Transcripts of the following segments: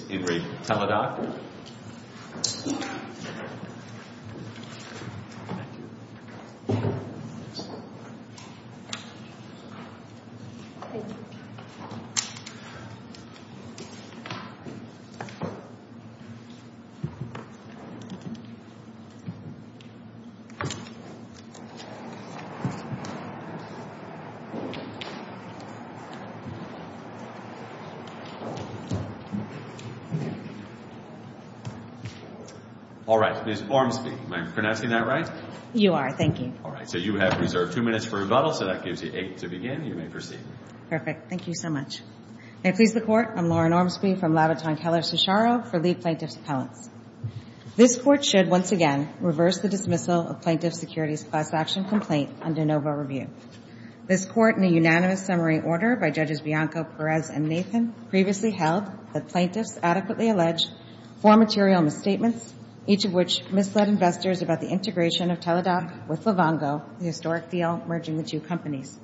This is In Re. Teladoc. Ms. Ormsby, am I pronouncing that right? You are. Thank you. All right. So you have reserved two minutes for rebuttal, so that gives you eight to begin. You may proceed. Perfect. Thank you so much. May it please the Court, I'm Lauren Ormsby from Labaton Keller Cisharo for Lead Plaintiff's Appellants. This Court should, once again, reverse the dismissal of Plaintiff's Securities Class Action Complaint under NOVA Review. This Court, in a unanimous summary order by Judges Bianco, Perez, and Nathan, previously held that plaintiffs adequately alleged four material misstatements, each of which misled investors about the integration of Teladoc with Livongo, the historic deal merging the two companies.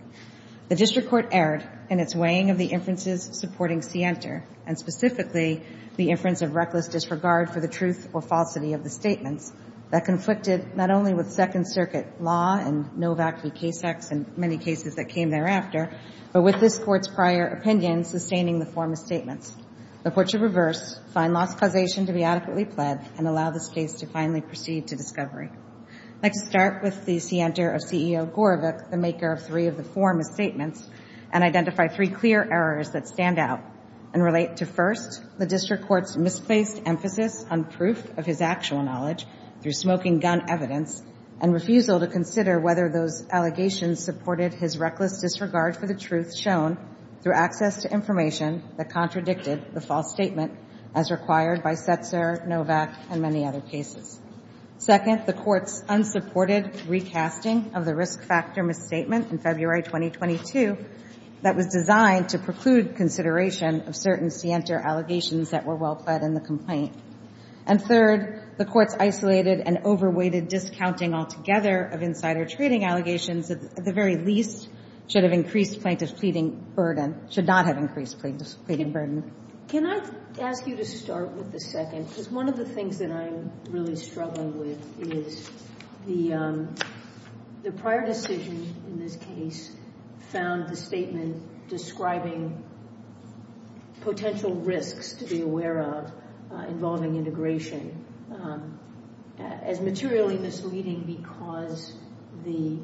The District Court erred in its weighing of the inferences supporting Sienta, and specifically the inference of reckless disregard for the truth or falsity of the statements that conflicted not only with Second Circuit law and Novak v. Casex and many cases that came thereafter, but with this Court's prior opinion sustaining the four misstatements. The Court should reverse, find lost causation to be adequately pled, and allow this case to finally proceed to discovery. I'd like to start with the Sienta of CEO Gorevich, the maker of three of the four misstatements, and identify three clear errors that stand out and relate to, first, the District Court's misplaced emphasis on proof of his actual knowledge through smoking gun evidence, and refusal to consider whether those allegations supported his reckless disregard for the truth shown through access to information that contradicted the false statement as required by Setzer, Novak, and many other cases. Second, the Court's unsupported recasting of the risk factor misstatement in February 2022 that was designed to preclude consideration of certain Sienta allegations that were well-pled in the complaint. And third, the Court's isolated and over-weighted discounting altogether of insider trading allegations that at the very least should have increased plaintiff's pleading burden, should not have increased plaintiff's pleading burden. Can I ask you to start with the second? Because one of the things that I'm really struggling with is the prior decision in this case found the statement describing potential risks to be aware of involving integration as materially misleading because the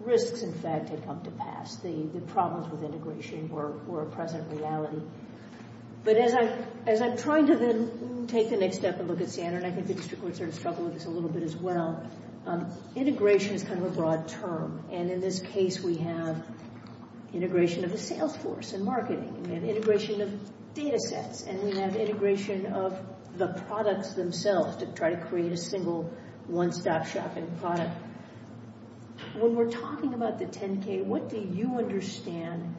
risks, in fact, had come to pass. The problems with integration were a present reality. But as I'm trying to then take the next step and look at Sienta, and I think the District Court sort of struggled with this a little bit as well, integration is kind of a broad term. And in this case, we have integration of the sales force and marketing. We have integration of data sets. And we have integration of the products themselves to try to create a single one-stop-shopping product. When we're talking about the 10-K, what do you understand,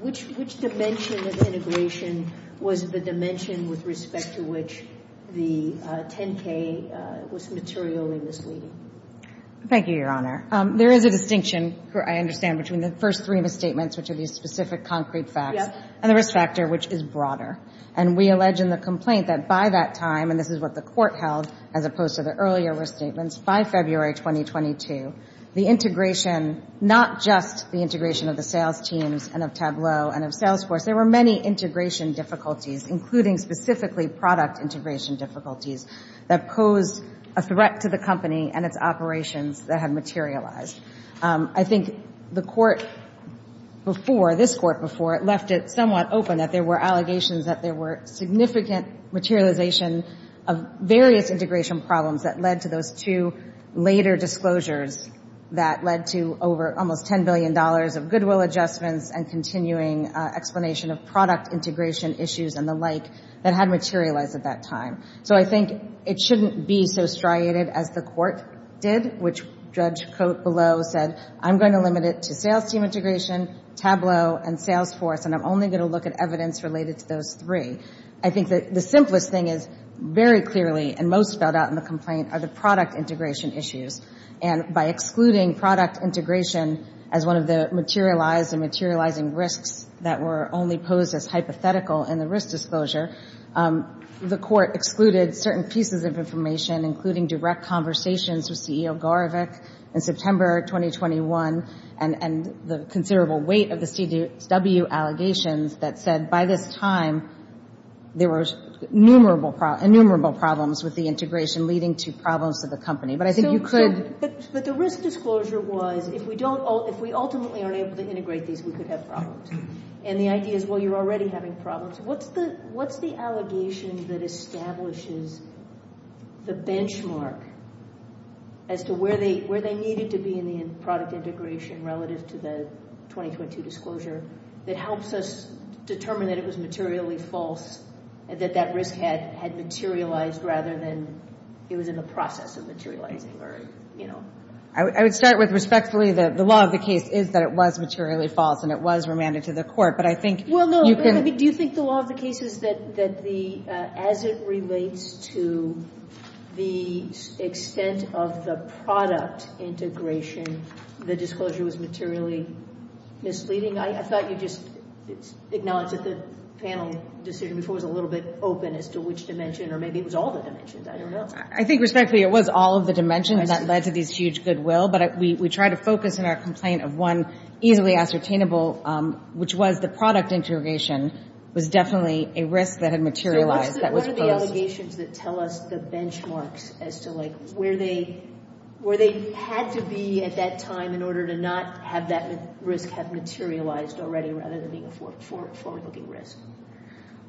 which dimension of integration was the dimension with respect to which the 10-K was materially misleading? Thank you, Your Honor. There is a distinction, I understand, between the first three misstatements, which are these specific concrete facts, and the risk factor, which is broader. And we allege in the complaint that by that time, and this is what the Court held as opposed to the earlier risk statements, by February 2022, the integration, not just the integration of the sales teams and of Tableau and of sales force, there were many integration difficulties, including specifically product integration difficulties, that posed a threat to the company and its operations that had materialized. I think the Court before, this Court before, it left it somewhat open that there were allegations that there were significant materialization of various integration problems that led to those two later disclosures that led to over almost $10 billion of goodwill adjustments and continuing explanation of product integration issues and the like that had materialized at that time. So I think it shouldn't be so striated as the Court did, which Judge Cote below said, I'm going to limit it to sales team integration, Tableau, and sales force, and I'm only going to look at evidence related to those three. I think the simplest thing is very clearly, and most spelled out in the complaint, are the product integration issues. And by excluding product integration as one of the materialized and materializing risks that were only posed as hypothetical in the risk disclosure, the Court excluded certain pieces of information, including direct conversations with CEO Gorevich in September 2021 and the considerable weight of the CW allegations that said by this time, there were innumerable problems with the integration leading to problems for the company. But I think you could. But the risk disclosure was if we ultimately aren't able to integrate these, we could have problems. And the idea is, well, you're already having problems. What's the allegation that establishes the benchmark as to where they needed to be in the product integration relative to the 2022 disclosure that helps us determine that it was materially false, that that risk had materialized rather than it was in the process of materializing? I would start with respectfully that the law of the case is that it was materially false, and it was remanded to the Court. But I think you could. Well, no, do you think the law of the case is that as it relates to the extent of the product integration, the disclosure was materially misleading? I thought you just acknowledged that the panel decision before was a little bit open as to which dimension, or maybe it was all the dimensions. I don't know. I think respectfully it was all of the dimensions that led to this huge goodwill. But we try to focus in our complaint of one easily ascertainable, which was the product integration was definitely a risk that had materialized that was posed. So what are the allegations that tell us the benchmarks as to, like, where they had to be at that time in order to not have that risk have materialized already rather than being a forward-looking risk?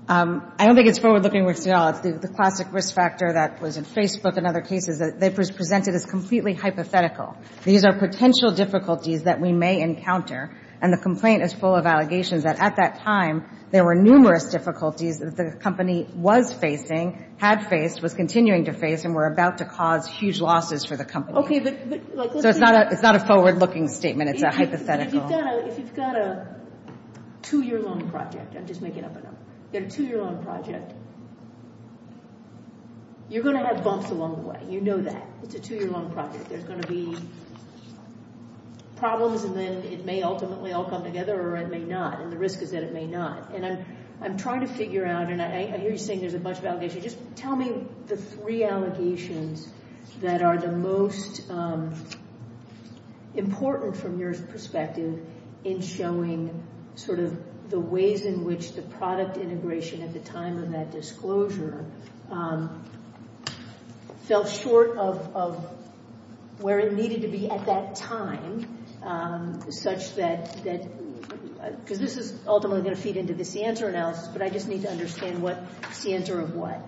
I don't think it's forward-looking risk at all. The classic risk factor that was in Facebook and other cases, they presented as completely hypothetical. These are potential difficulties that we may encounter, and the complaint is full of allegations that at that time there were numerous difficulties that the company was facing, had faced, was continuing to face, and were about to cause huge losses for the company. So it's not a forward-looking statement. It's a hypothetical. If you've got a two-year-long project, I'm just making up a number, you've got a two-year-long project, you're going to have bumps along the way. You know that. It's a two-year-long project. There's going to be problems, and then it may ultimately all come together or it may not, and the risk is that it may not. And I'm trying to figure out, and I hear you saying there's a bunch of allegations. Just tell me the three allegations that are the most important from your perspective in showing sort of the ways in which the product integration at the time of that disclosure fell short of where it needed to be at that time, such that, because this is ultimately going to feed into the CNTR analysis, but I just need to understand what CNTR of what.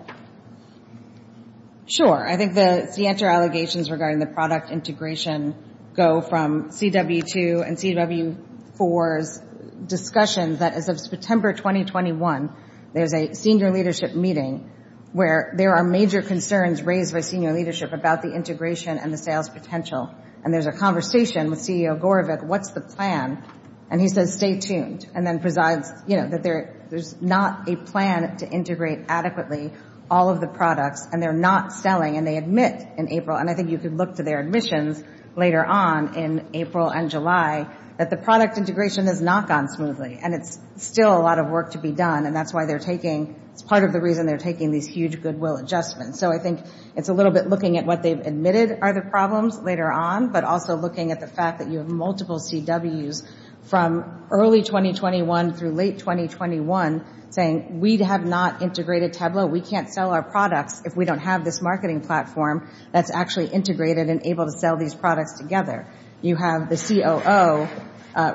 Sure. I think the CNTR allegations regarding the product integration go from CW2 and CW4's discussion that as of September 2021, there's a senior leadership meeting where there are major concerns raised by senior leadership about the integration and the sales potential. And there's a conversation with CEO Gorevich, what's the plan? And he says stay tuned, and then presides, you know, that there's not a plan to integrate adequately all of the products, and they're not selling, and they admit in April, and I think you could look to their admissions later on in April and July, that the product integration has not gone smoothly, and it's still a lot of work to be done, and that's why they're taking, it's part of the reason they're taking these huge goodwill adjustments. So I think it's a little bit looking at what they've admitted are the problems later on, but also looking at the fact that you have multiple CWs from early 2021 through late 2021 saying, we have not integrated Tableau, we can't sell our products if we don't have this marketing platform that's actually integrated and able to sell these products together. You have the COO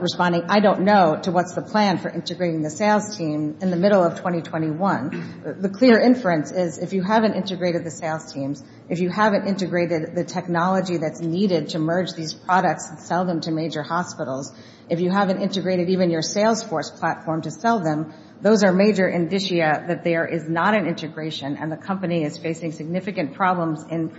responding, I don't know, to what's the plan for integrating the sales team in the middle of 2021. The clear inference is if you haven't integrated the sales teams, if you haven't integrated the technology that's needed to merge these products and sell them to major hospitals, if you haven't integrated even your sales force platform to sell them, those are major indicia that there is not an integration, and the company is facing significant problems in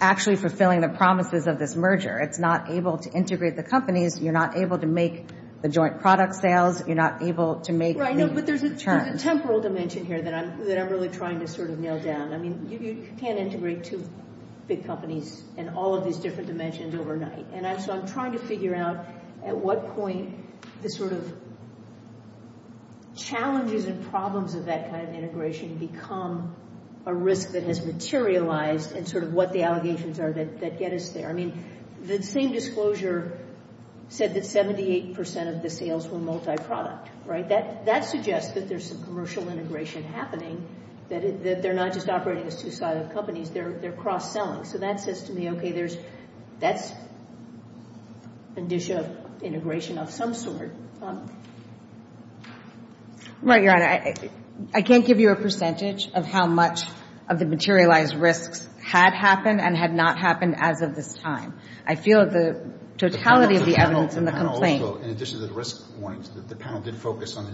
actually fulfilling the promises of this merger. It's not able to integrate the companies, you're not able to make the joint product sales, you're not able to make the returns. Right, but there's a temporal dimension here that I'm really trying to sort of nail down. I mean, you can't integrate two big companies in all of these different dimensions overnight. And so I'm trying to figure out at what point the sort of challenges and problems of that kind of integration become a risk that has materialized and sort of what the allegations are that get us there. I mean, the same disclosure said that 78% of the sales were multi-product, right? That suggests that there's some commercial integration happening, that they're not just operating as two-sided companies, they're cross-selling. So that says to me, okay, that's an indicia of integration of some sort. Right, Your Honor. I can't give you a percentage of how much of the materialized risks had happened and had not happened as of this time. I feel the totality of the evidence in the complaint. In addition to the risk warnings, the panel did focus on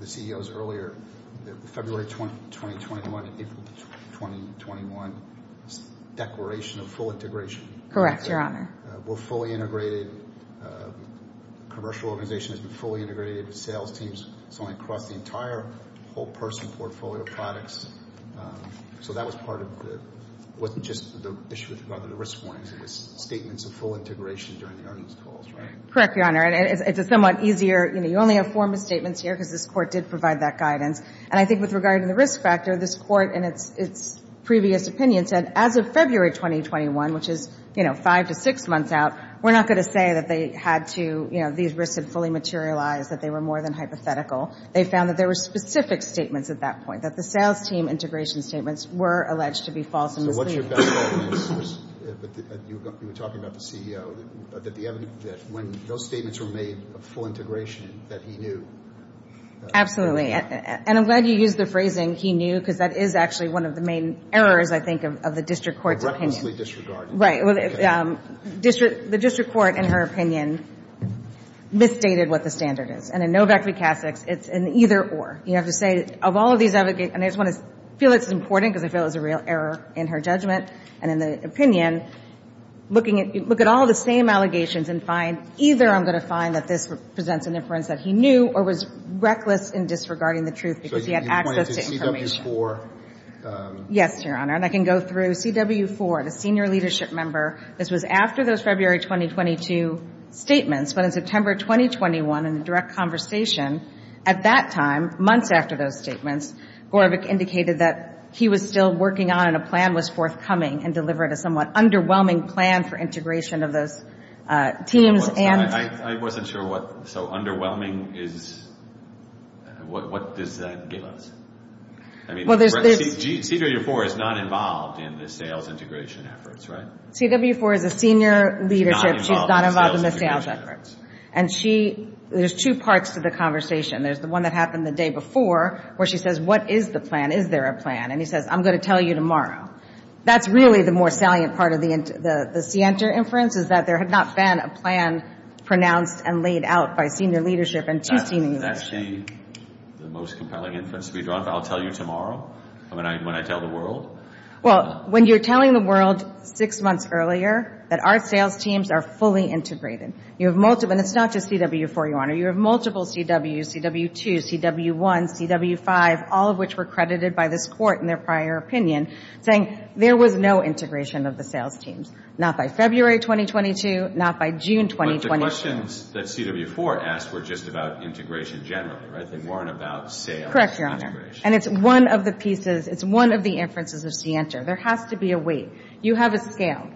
the CEOs earlier, the February 2021 to April 2021 declaration of full integration. Correct, Your Honor. We're fully integrated. The commercial organization has been fully integrated. The sales teams, it's only across the entire whole person portfolio of products. So that was part of the – wasn't just the issue with the risk warnings, it was statements of full integration during the earnings calls, right? Correct, Your Honor. It's a somewhat easier – you only have four misstatements here because this Court did provide that guidance. And I think with regard to the risk factor, this Court, in its previous opinion, said as of February 2021, which is five to six months out, we're not going to say that they had to – these risks had fully materialized, that they were more than hypothetical. They found that there were specific statements at that point, that the sales team integration statements were alleged to be false and misleading. You were talking about the CEO, that when those statements were made of full integration, that he knew. Absolutely. And I'm glad you used the phrasing, he knew, because that is actually one of the main errors, I think, of the District Court's opinion. Of recklessly disregard. Right. The District Court, in her opinion, misstated what the standard is. And in Novak v. Kasich, it's an either or. You have to say, of all of these – and I just want to feel it's important because I feel it was a real error in her judgment and in the opinion – look at all the same allegations and find, either I'm going to find that this presents an inference that he knew or was reckless in disregarding the truth because he had access to information. So you're pointing to CW4? Yes, Your Honor. And I can go through CW4, the senior leadership member. This was after those February 2022 statements. But in September 2021, in the direct conversation at that time, months after those statements, Gorevic indicated that he was still working on and a plan was forthcoming and delivered a somewhat underwhelming plan for integration of those teams. I wasn't sure what – so underwhelming is – what does that give us? I mean, CW4 is not involved in the sales integration efforts, right? CW4 is a senior leadership. She's not involved in the sales efforts. And she – there's two parts to the conversation. There's the one that happened the day before where she says, what is the plan? Is there a plan? And he says, I'm going to tell you tomorrow. That's really the more salient part of the Sienter inference is that there had not been a plan pronounced and laid out by senior leadership in two senior leadership. That's the most compelling inference to be drawn. I'll tell you tomorrow when I tell the world? Well, when you're telling the world six months earlier that our sales teams are fully integrated. You have multiple – and it's not just CW4, Your Honor. You have multiple CWs, CW2, CW1, CW5, all of which were credited by this court in their prior opinion, saying there was no integration of the sales teams, not by February 2022, not by June 2021. But the questions that CW4 asked were just about integration generally, right? They weren't about sales integration. Correct, Your Honor. And it's one of the pieces – it's one of the inferences of Sienter. There has to be a weight. You have a scale.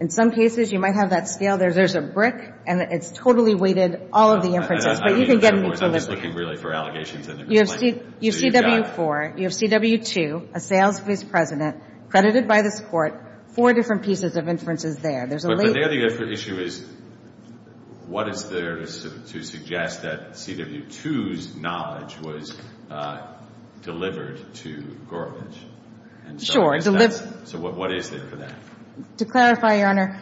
In some cases, you might have that scale. There's a brick, and it's totally weighted, all of the inferences. But you can get an inference. I was looking really for allegations. You have CW4, you have CW2, a sales vice president credited by this court, four different pieces of inferences there. But the issue is what is there to suggest that CW2's knowledge was delivered to Goralich? Sure. So what is there for that? To clarify, Your Honor,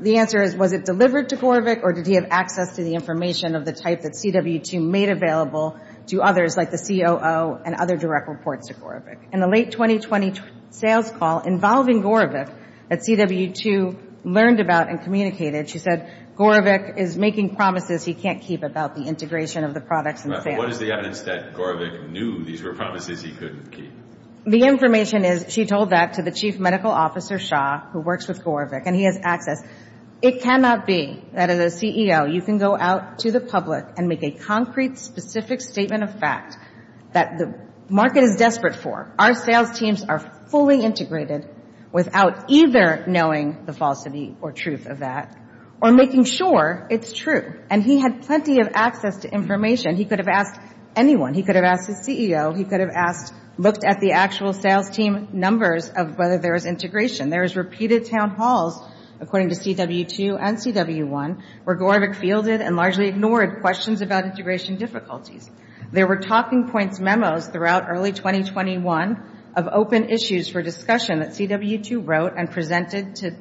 the answer is was it delivered to Goralich or did he have access to the information of the type that CW2 made available to others, like the COO and other direct reports to Goralich? In the late 2020 sales call involving Goralich that CW2 learned about and communicated, she said Goralich is making promises he can't keep about the integration of the products and sales. But what is the evidence that Goralich knew these were promises he couldn't keep? The information is she told that to the chief medical officer, Shaw, who works with Goralich, and he has access. It cannot be that as a CEO you can go out to the public and make a concrete, specific statement of fact that the market is desperate for. Our sales teams are fully integrated without either knowing the falsity or truth of that or making sure it's true. And he had plenty of access to information. He could have asked anyone. He could have asked his CEO. He could have asked, looked at the actual sales team numbers of whether there was integration. There was repeated town halls, according to CW2 and CW1, where Goralich fielded and largely ignored questions about integration difficulties. There were talking points memos throughout early 2021 of open issues for discussion that CW2 wrote and presented to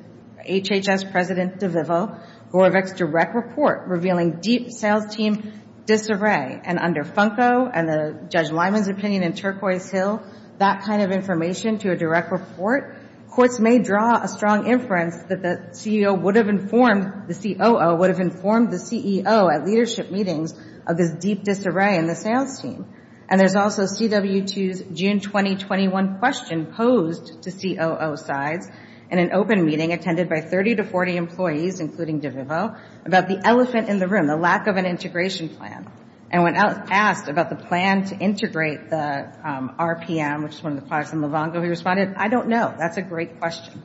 HHS President DeVivo, Goralich's direct report revealing deep sales team disarray. And under Funko and Judge Lyman's opinion in Turquoise Hill, that kind of information to a direct report, courts may draw a strong inference that the CEO would have informed, the COO would have informed the CEO at leadership meetings of this deep disarray in the sales team. And there's also CW2's June 2021 question posed to COO sides in an open meeting attended by 30 to 40 employees, including DeVivo, about the elephant in the room, the lack of an integration plan. And when asked about the plan to integrate the RPM, which is one of the products of Livongo, he responded, I don't know. That's a great question.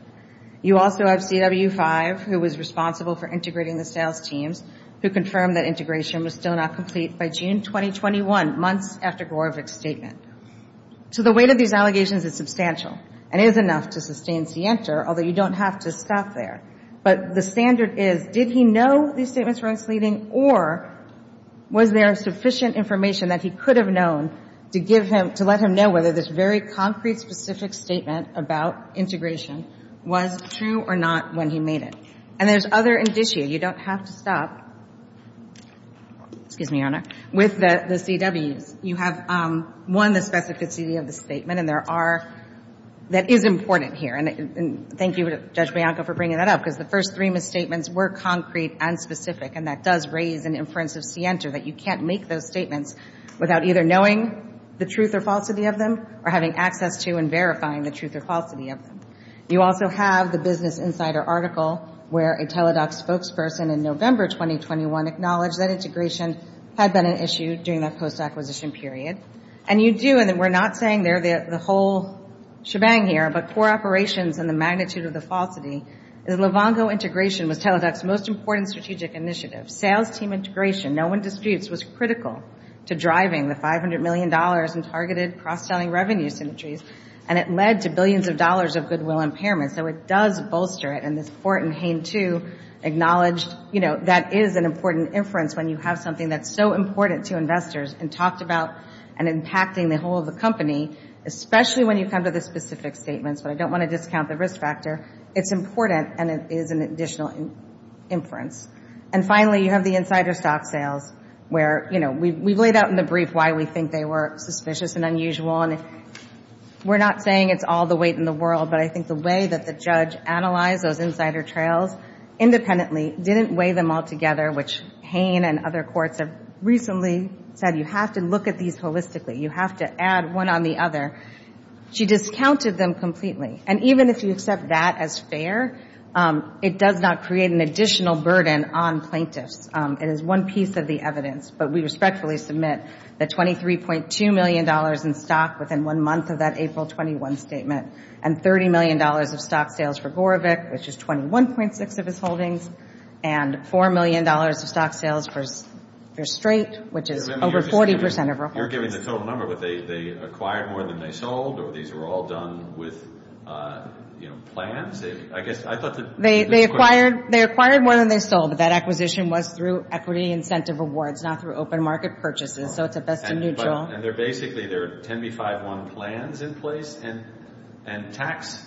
You also have CW5, who was responsible for integrating the sales teams, who confirmed that integration was still not complete by June 2021, months after Goralich's statement. So the weight of these allegations is substantial and is enough to sustain Sienta, although you don't have to stop there. But the standard is, did he know these statements were misleading, or was there sufficient information that he could have known to give him, to let him know whether this very concrete, specific statement about integration was true or not when he made it? And there's other indicia. You don't have to stop. Excuse me, Your Honor. With the CWs, you have, one, the specificity of the statement, and there are, that is important here. And thank you, Judge Bianco, for bringing that up. Because the first three misstatements were concrete and specific, and that does raise an inference of Sienta that you can't make those statements without either knowing the truth or falsity of them, or having access to and verifying the truth or falsity of them. You also have the Business Insider article, where a Teledocs spokesperson in November 2021 acknowledged that integration had been an issue during that post-acquisition period. And you do, and we're not saying the whole shebang here, but core operations and the magnitude of the falsity, is Livongo integration was Teledocs' most important strategic initiative. Sales team integration, no one disputes, was critical to driving the $500 million in targeted cross-selling revenue synergies, and it led to billions of dollars of goodwill impairment. So it does bolster it. And this Fort and Hain, too, acknowledged, you know, that is an important inference when you have something that's so important to investors, and talked about impacting the whole of the company, especially when you come to the specific statements, but I don't want to discount the risk factor. It's important, and it is an additional inference. And finally, you have the insider stock sales, where, you know, we've laid out in the brief why we think they were suspicious and unusual, and we're not saying it's all the weight in the world, but I think the way that the judge analyzed those insider trails independently didn't weigh them all together, which Hain and other courts have recently said, you have to look at these holistically, you have to add one on the other. She discounted them completely. And even if you accept that as fair, it does not create an additional burden on plaintiffs. It is one piece of the evidence. But we respectfully submit that $23.2 million in stock within one month of that April 21 statement, and $30 million of stock sales for Gorevic, which is 21.6 of his holdings, and $4 million of stock sales for Strait, which is over 40% of her holdings. You're giving the total number, but they acquired more than they sold, or these were all done with, you know, plans? They acquired more than they sold. That acquisition was through equity incentive awards, not through open market purchases, so it's a best-in-neutral. And basically there are 10B51 plans in place and tax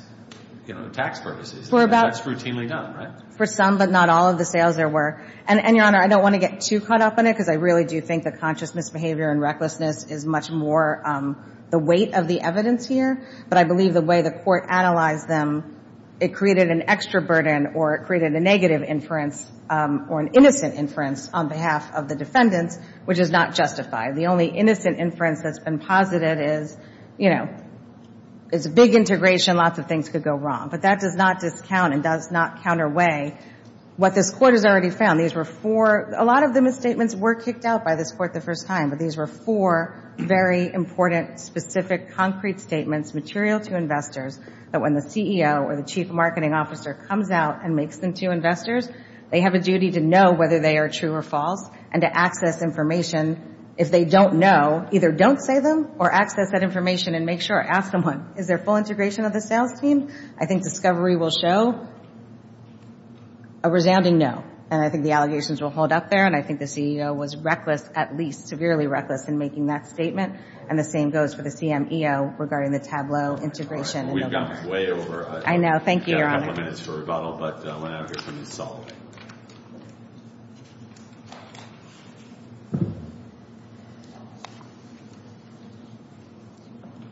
purposes. That's routinely done, right? For some, but not all of the sales there were. And, Your Honor, I don't want to get too caught up in it, because I really do think that conscious misbehavior and recklessness is much more the weight of the evidence here. But I believe the way the court analyzed them, it created an extra burden or it created a negative inference or an innocent inference on behalf of the defendants, which is not justified. The only innocent inference that's been posited is, you know, it's a big integration, lots of things could go wrong. But that does not discount and does not counterweigh what this court has already found. These were four. A lot of the misstatements were kicked out by this court the first time, but these were four very important, specific, concrete statements, material to investors, that when the CEO or the chief marketing officer comes out and makes them to investors, they have a duty to know whether they are true or false and to access information. If they don't know, either don't say them or access that information and make sure, ask someone, is there full integration of the sales team? I think discovery will show a resounding no, and I think the allegations will hold up there, and I think the CEO was reckless, at least severely reckless, in making that statement, and the same goes for the CMEO regarding the Tableau integration. We've gone way over. I know. Thank you, Your Honor. We've got a couple of minutes for rebuttal, but I want to hear from Ms. Soloway.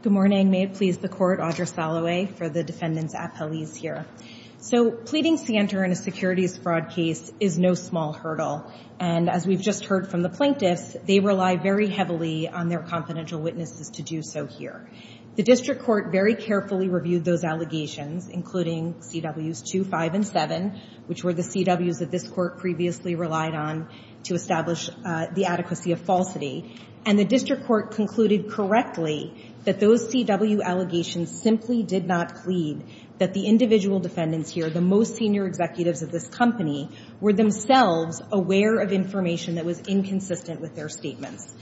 Good morning. May it please the Court, Audra Soloway for the defendants' appellees here. So pleading scienter in a securities fraud case is no small hurdle, and as we've just heard from the plaintiffs, they rely very heavily on their confidential witnesses to do so here. The district court very carefully reviewed those allegations, including CWs 2, 5, and 7, which were the CWs that this Court previously relied on to establish the adequacy of falsity, and the district court concluded correctly that those CW allegations simply did not plead, that the individual defendants here, the most senior executives of this company, were themselves aware of information that was inconsistent with their statements.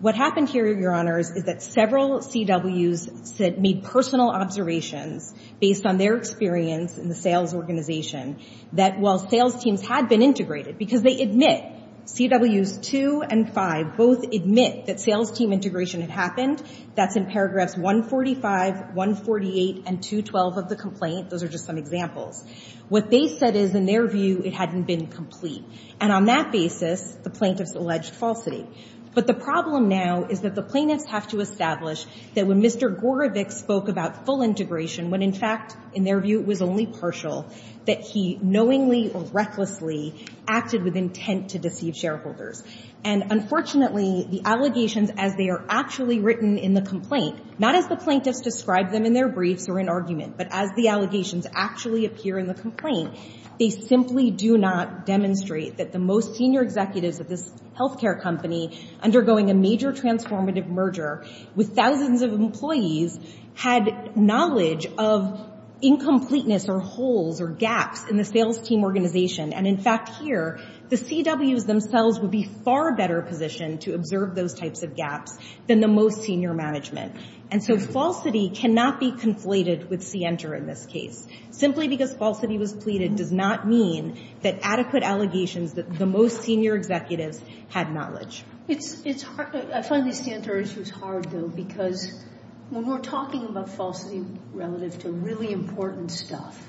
What happened here, Your Honors, is that several CWs made personal observations based on their experience in the sales organization, that while sales teams had been integrated, because they admit, CWs 2 and 5 both admit that sales team integration had happened, that's in paragraphs 145, 148, and 212 of the complaint. Those are just some examples. What they said is, in their view, it hadn't been complete. And on that basis, the plaintiffs alleged falsity. But the problem now is that the plaintiffs have to establish that when Mr. Gorevic spoke about full integration, when in fact, in their view, it was only partial, that he knowingly or recklessly acted with intent to deceive shareholders. And unfortunately, the allegations, as they are actually written in the complaint, not as the plaintiffs describe them in their briefs or in argument, but as the allegations actually appear in the complaint, they simply do not demonstrate that the most senior executives of this health care company, undergoing a major transformative merger with thousands of employees, had knowledge of incompleteness or holes or gaps in the sales team organization. And in fact, here, the CWs themselves would be far better positioned to observe those types of gaps than the most senior management. And so falsity cannot be conflated with scienter in this case. Simply because falsity was pleaded does not mean that adequate allegations that the most senior executives had knowledge. It's hard. I find these scienter issues hard, though, because when we're talking about falsity relative to really important stuff,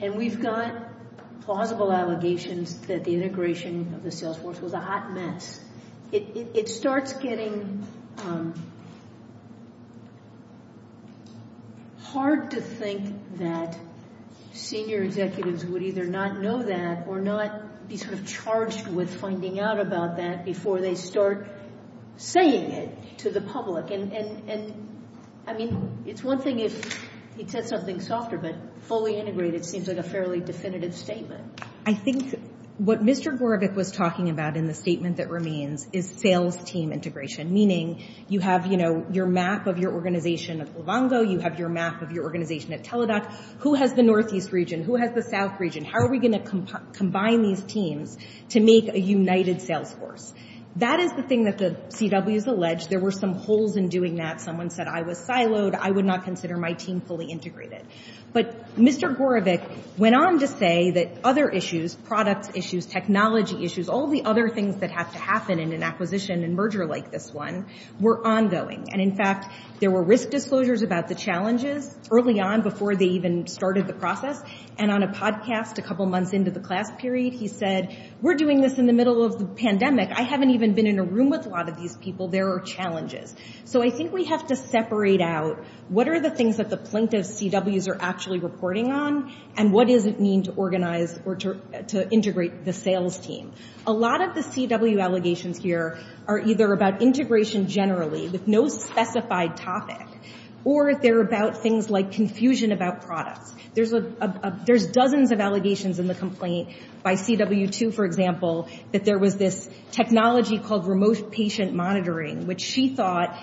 and we've got plausible allegations that the integration of the sales force was a hot mess, it starts getting hard to think that senior executives would either not know that or not be sort of charged with finding out about that before they start saying it to the public. And, I mean, it's one thing if he said something softer, but fully integrated seems like a fairly definitive statement. I think what Mr. Gorevic was talking about in the statement that remains is sales team integration, meaning you have, you know, your map of your organization at Livongo, you have your map of your organization at Teladoc. Who has the northeast region? Who has the south region? How are we going to combine these teams to make a united sales force? That is the thing that the CWs alleged. There were some holes in doing that. Someone said, I was siloed. I would not consider my team fully integrated. But Mr. Gorevic went on to say that other issues, product issues, technology issues, all the other things that have to happen in an acquisition and merger like this one were ongoing. And, in fact, there were risk disclosures about the challenges early on before they even started the process, and on a podcast a couple months into the class period, he said, we're doing this in the middle of the pandemic. I haven't even been in a room with a lot of these people. There are challenges. So I think we have to separate out what are the things that the plaintiff's CWs are actually reporting on and what does it mean to organize or to integrate the sales team. A lot of the CW allegations here are either about integration generally with no specified topic or they're about things like confusion about products. There's dozens of allegations in the complaint by CW2, for example, that there was this technology called remote patient monitoring, which she thought,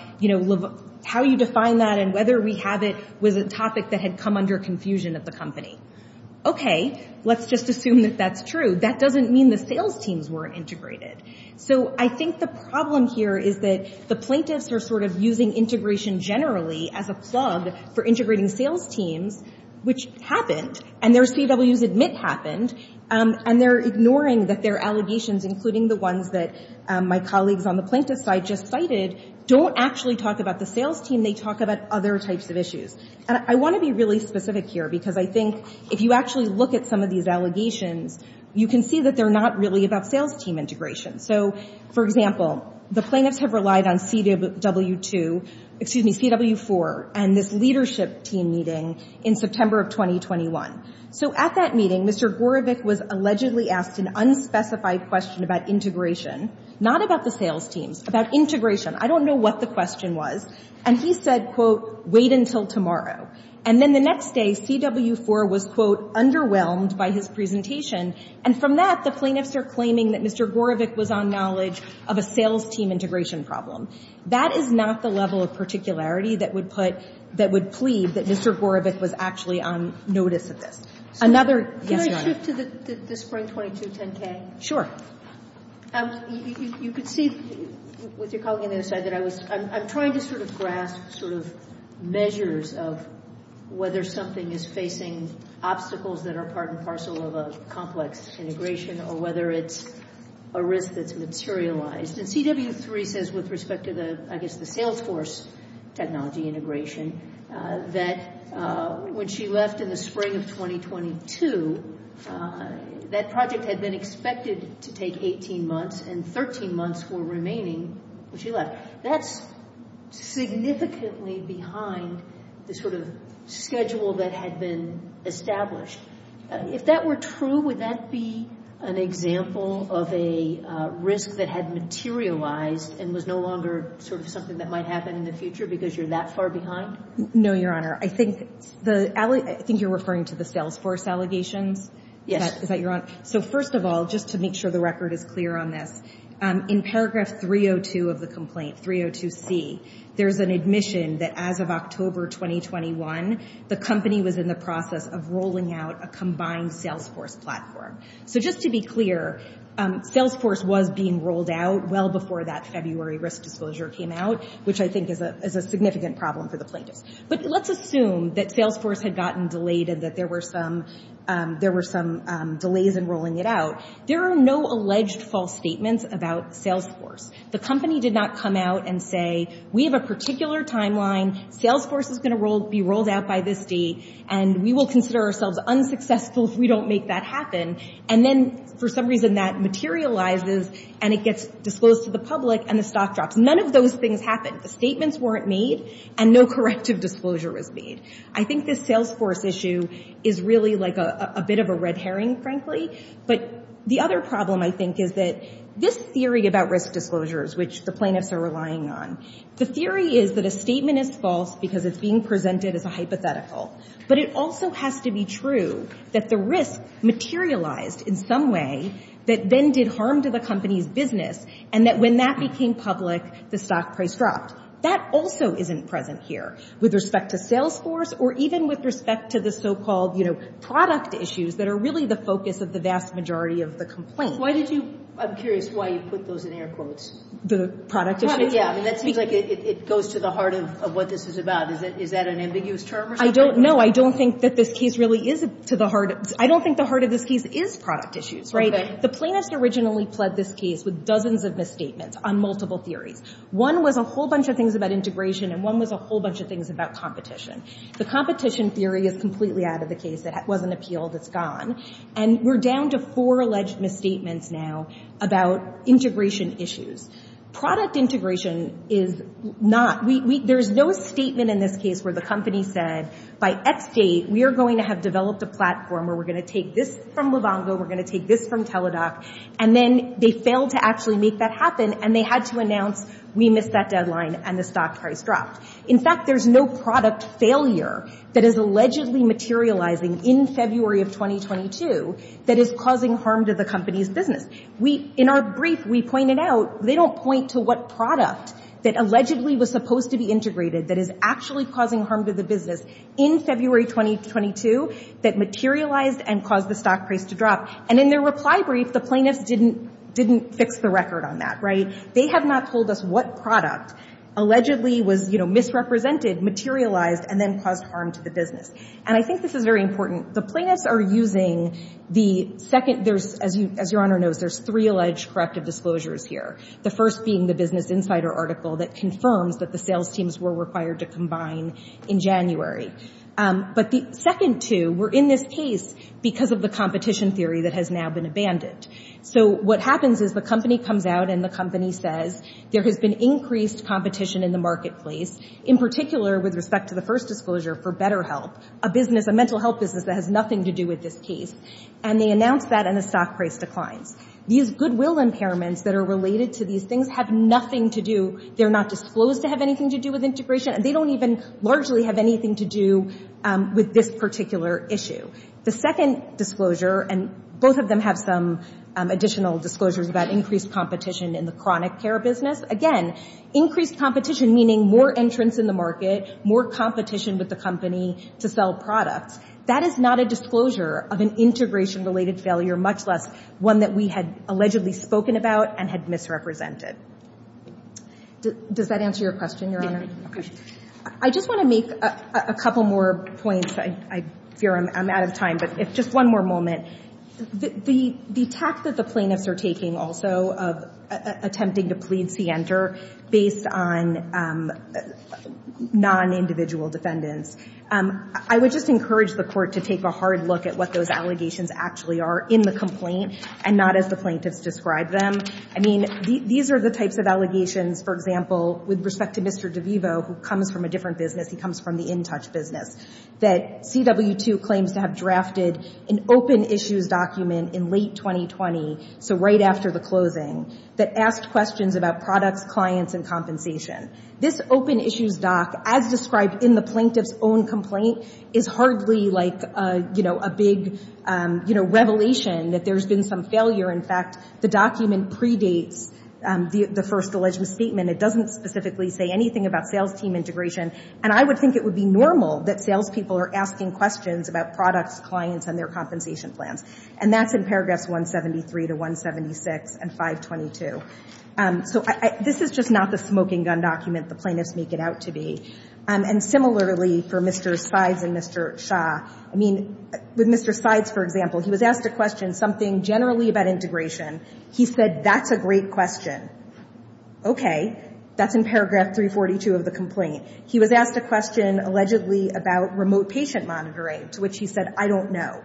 how you define that and whether we have it was a topic that had come under confusion at the company. Okay, let's just assume that that's true. That doesn't mean the sales teams weren't integrated. So I think the problem here is that the plaintiffs are sort of using integration generally as a plug for integrating sales teams, which happened, and their CWs admit happened, and they're ignoring that their allegations, including the ones that my colleagues on the plaintiff's side just cited, don't actually talk about the sales team. They talk about other types of issues. And I want to be really specific here because I think if you actually look at some of these allegations, you can see that they're not really about sales team integration. So, for example, the plaintiffs have relied on CW2, excuse me, CW4, and this leadership team meeting in September of 2021. So at that meeting, Mr. Gorevic was allegedly asked an unspecified question about integration, not about the sales teams, about integration. I don't know what the question was, and he said, quote, wait until tomorrow. And then the next day, CW4 was, quote, underwhelmed by his presentation, and from that the plaintiffs are claiming that Mr. Gorevic was on knowledge of a sales team integration problem. That is not the level of particularity that would put, that would plead that Mr. Gorevic was actually on notice of this. Another, yes, Your Honor. Can I shift to the Spring 2210K? Sure. You could see with your colleague on the other side that I was, I'm trying to sort of grasp sort of measures of whether something is facing obstacles that are part and parcel of a complex integration or whether it's a risk that's materialized. And CW3 says with respect to the, I guess, the sales force technology integration, that when she left in the spring of 2022, that project had been expected to take 18 months, and 13 months were remaining when she left. That's significantly behind the sort of schedule that had been established. If that were true, would that be an example of a risk that had materialized and was no longer sort of something that might happen in the future because you're that far behind? No, Your Honor. I think the, I think you're referring to the sales force allegations? Yes. Is that your, so first of all, just to make sure the record is clear on this, in paragraph 302 of the complaint, 302C, there's an admission that as of October 2021, the company was in the process of rolling out a combined sales force platform. So just to be clear, sales force was being rolled out well before that February risk disclosure came out, which I think is a significant problem for the plaintiffs. But let's assume that sales force had gotten delayed and that there were some delays in rolling it out. There are no alleged false statements about sales force. The company did not come out and say, we have a particular timeline, sales force is going to be rolled out by this date, and we will consider ourselves unsuccessful if we don't make that happen. And then for some reason that materializes and it gets disclosed to the public and the stock drops. None of those things happened. The statements weren't made and no corrective disclosure was made. I think this sales force issue is really like a bit of a red herring, frankly. But the other problem I think is that this theory about risk disclosures, which the plaintiffs are relying on, the theory is that a statement is false because it's being presented as a hypothetical. But it also has to be true that the risk materialized in some way that then did harm to the company's business, and that when that became public, the stock price dropped. That also isn't present here with respect to sales force or even with respect to the so-called, you know, product issues that are really the focus of the vast majority of the complaint. Why did you – I'm curious why you put those in air quotes. The product issues? Yeah, I mean, that seems like it goes to the heart of what this is about. Is that an ambiguous term or something? No, I don't think that this case really is to the heart – I don't think the heart of this case is product issues, right? Okay. The plaintiffs originally pled this case with dozens of misstatements on multiple theories. One was a whole bunch of things about integration, and one was a whole bunch of things about competition. The competition theory is completely out of the case. It wasn't appealed. It's gone. And we're down to four alleged misstatements now about integration issues. Product integration is not – there's no statement in this case where the company said, by X date, we are going to have developed a platform where we're going to take this from Livongo, we're going to take this from Teladoc, and then they failed to actually make that happen, and they had to announce, we missed that deadline, and the stock price dropped. In fact, there's no product failure that is allegedly materializing in February of 2022 that is causing harm to the company's business. In our brief, we pointed out they don't point to what product that allegedly was supposed to be integrated that is actually causing harm to the business in February 2022 that materialized and caused the stock price to drop. And in their reply brief, the plaintiffs didn't fix the record on that, right? They have not told us what product allegedly was, you know, misrepresented, materialized, and then caused harm to the business. And I think this is very important. The plaintiffs are using the second – there's – as Your Honor knows, there's three alleged corrective disclosures here, the first being the Business Insider article that confirms that the sales teams were required to combine in January. But the second two were in this case because of the competition theory that has now been abandoned. So what happens is the company comes out and the company says, there has been increased competition in the marketplace, in particular with respect to the first disclosure for BetterHelp, a business, a mental health business that has nothing to do with this case. And they announce that and the stock price declines. These goodwill impairments that are related to these things have nothing to do – they're not disclosed to have anything to do with integration, and they don't even largely have anything to do with this particular issue. The second disclosure, and both of them have some additional disclosures about increased competition in the chronic care business. Again, increased competition meaning more entrance in the market, more competition with the company to sell products. That is not a disclosure of an integration-related failure, much less one that we had allegedly spoken about and had misrepresented. Does that answer your question, Your Honor? It did. Okay. I just want to make a couple more points. I fear I'm out of time, but just one more moment. The tact that the plaintiffs are taking also of attempting to plead scienter based on non-individual defendants, I would just encourage the Court to take a hard look at what those allegations actually are in the complaint and not as the plaintiffs describe them. I mean, these are the types of allegations, for example, with respect to Mr. DeVivo, who comes from a different business. He comes from the InTouch business, that CW2 claims to have drafted an open issues document in late 2020, so right after the closing, that asked questions about products, clients, and compensation. This open issues doc, as described in the plaintiff's own complaint, is hardly like a big revelation that there's been some failure. In fact, the document predates the first alleged misstatement. It doesn't specifically say anything about sales team integration. And I would think it would be normal that sales people are asking questions about products, clients, and their compensation plans. And that's in paragraphs 173 to 176 and 522. So this is just not the smoking gun document the plaintiffs make it out to be. And similarly, for Mr. Sides and Mr. Shah, I mean, with Mr. Sides, for example, he was asked a question, something generally about integration. He said, that's a great question. Okay. That's in paragraph 342 of the complaint. He was asked a question, allegedly, about remote patient monitoring, to which he said, I don't know.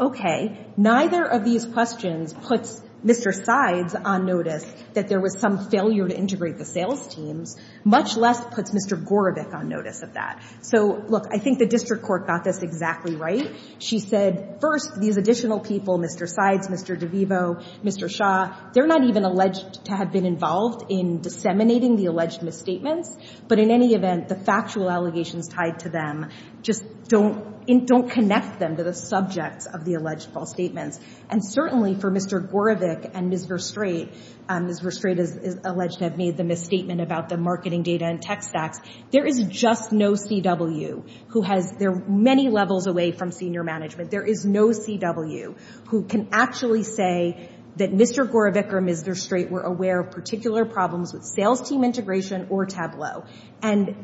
Okay. Neither of these questions puts Mr. Sides on notice that there was some failure to integrate the sales teams, much less puts Mr. Gorebick on notice of that. So, look, I think the district court got this exactly right. She said, first, these additional people, Mr. Sides, Mr. DeVivo, Mr. Shah, they're not even alleged to have been involved in disseminating the alleged misstatements. But in any event, the factual allegations tied to them just don't connect them to the subjects of the alleged false statements. And certainly for Mr. Gorebick and Ms. Verstraete, Ms. Verstraete is alleged to have made the misstatement about the marketing data and tech stacks. There is just no CW who has their many levels away from senior management. There is no CW who can actually say that Mr. Gorebick or Ms. Verstraete were aware of particular problems with sales team integration or Tableau. And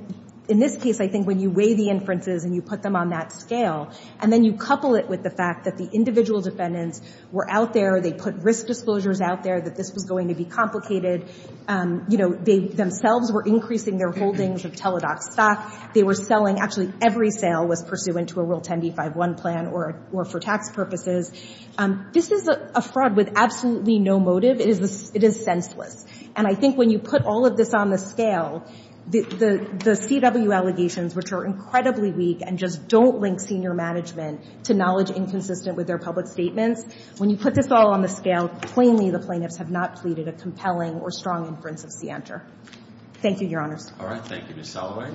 in this case, I think when you weigh the inferences and you put them on that scale, and then you couple it with the fact that the individual defendants were out there, they put risk disclosures out there that this was going to be complicated, you know, they themselves were increasing their holdings of Teladoc stock. They were selling, actually every sale was pursuant to a Rule 10b-5-1 plan or for tax purposes. This is a fraud with absolutely no motive. It is senseless. And I think when you put all of this on the scale, the CW allegations, which are incredibly weak and just don't link senior management to knowledge inconsistent with their public statements, when you put this all on the scale, plainly the plaintiffs have not pleaded a compelling or strong inference of CIANTR. Thank you, Your Honors. All right. Thank you, Ms. Soloway.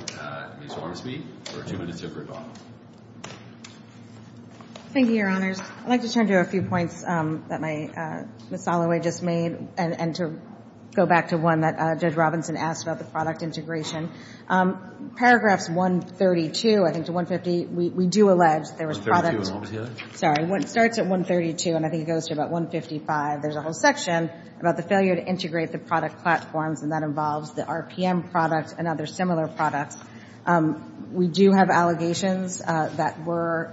Ms. Wormsby for two minutes of rebuttal. Thank you, Your Honors. I'd like to turn to a few points that Ms. Soloway just made and to go back to one that Judge Robinson asked about the product integration. Paragraphs 132, I think, to 150, we do allege there was product. Sorry. It starts at 132, and I think it goes to about 155. There's a whole section about the failure to integrate the product platforms, and that involves the RPM product and other similar products. We do have allegations that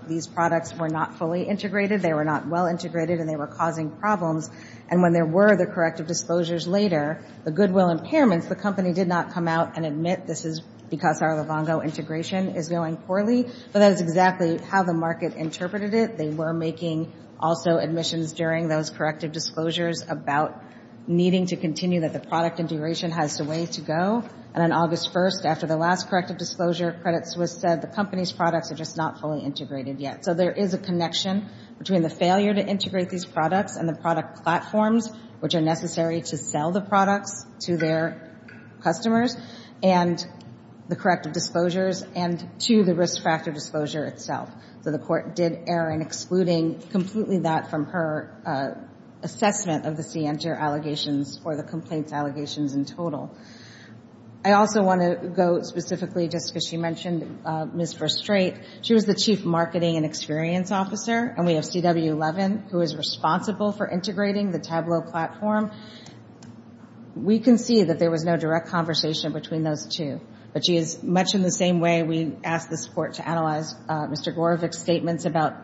these products were not fully integrated, they were not well integrated, and they were causing problems. And when there were the corrective disclosures later, the goodwill impairments, the company did not come out and admit this is because our Livongo integration is going poorly. But that is exactly how the market interpreted it. They were making also admissions during those corrective disclosures about needing to continue, that the product integration has a way to go. And on August 1st, after the last corrective disclosure, Credit Suisse said the company's products are just not fully integrated yet. So there is a connection between the failure to integrate these products and the product platforms which are necessary to sell the products to their customers and the corrective disclosures and to the risk factor disclosure itself. So the court did err in excluding completely that from her assessment of the CNTR allegations or the complaints allegations in total. I also want to go specifically just because she mentioned Ms. Fristrait. She was the Chief Marketing and Experience Officer, and we have CW Levin who is responsible for integrating the Tableau platform. We can see that there was no direct conversation between those two, but she is much in the same way we asked this court to analyze Mr. Gorovic's statements about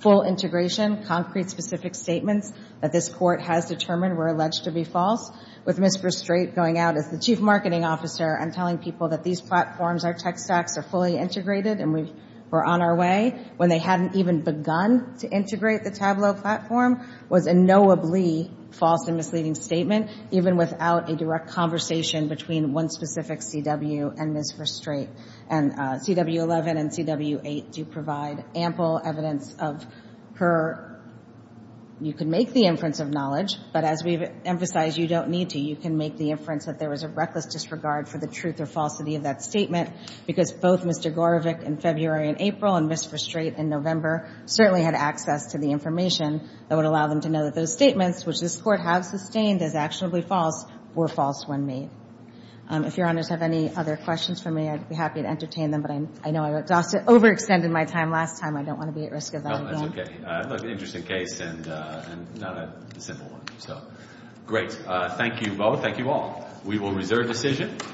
full integration, concrete specific statements that this court has determined were alleged to be false with Ms. Fristrait going out as the Chief Marketing Officer and telling people that these platforms, our tech stacks, are fully integrated and we're on our way when they hadn't even begun to integrate the Tableau platform was a knowably false and misleading statement, even without a direct conversation between one specific CW and Ms. Fristrait. And CW Levin and CW Levin do provide ample evidence of her. You can make the inference of knowledge, but as we've emphasized, you don't need to. You can make the inference that there was a reckless disregard for the truth or falsity of that statement because both Mr. Gorovic in February and April and Ms. Fristrait in November certainly had access to the information that would allow them to know that those statements, which this court has sustained as actionably false, were false when made. If Your Honors have any other questions for me, I'd be happy to entertain them, but I know I overextended my time last time. I don't want to be at risk of that again. Okay. An interesting case and not a simple one. Great. Thank you both. Thank you all. We will reserve decision.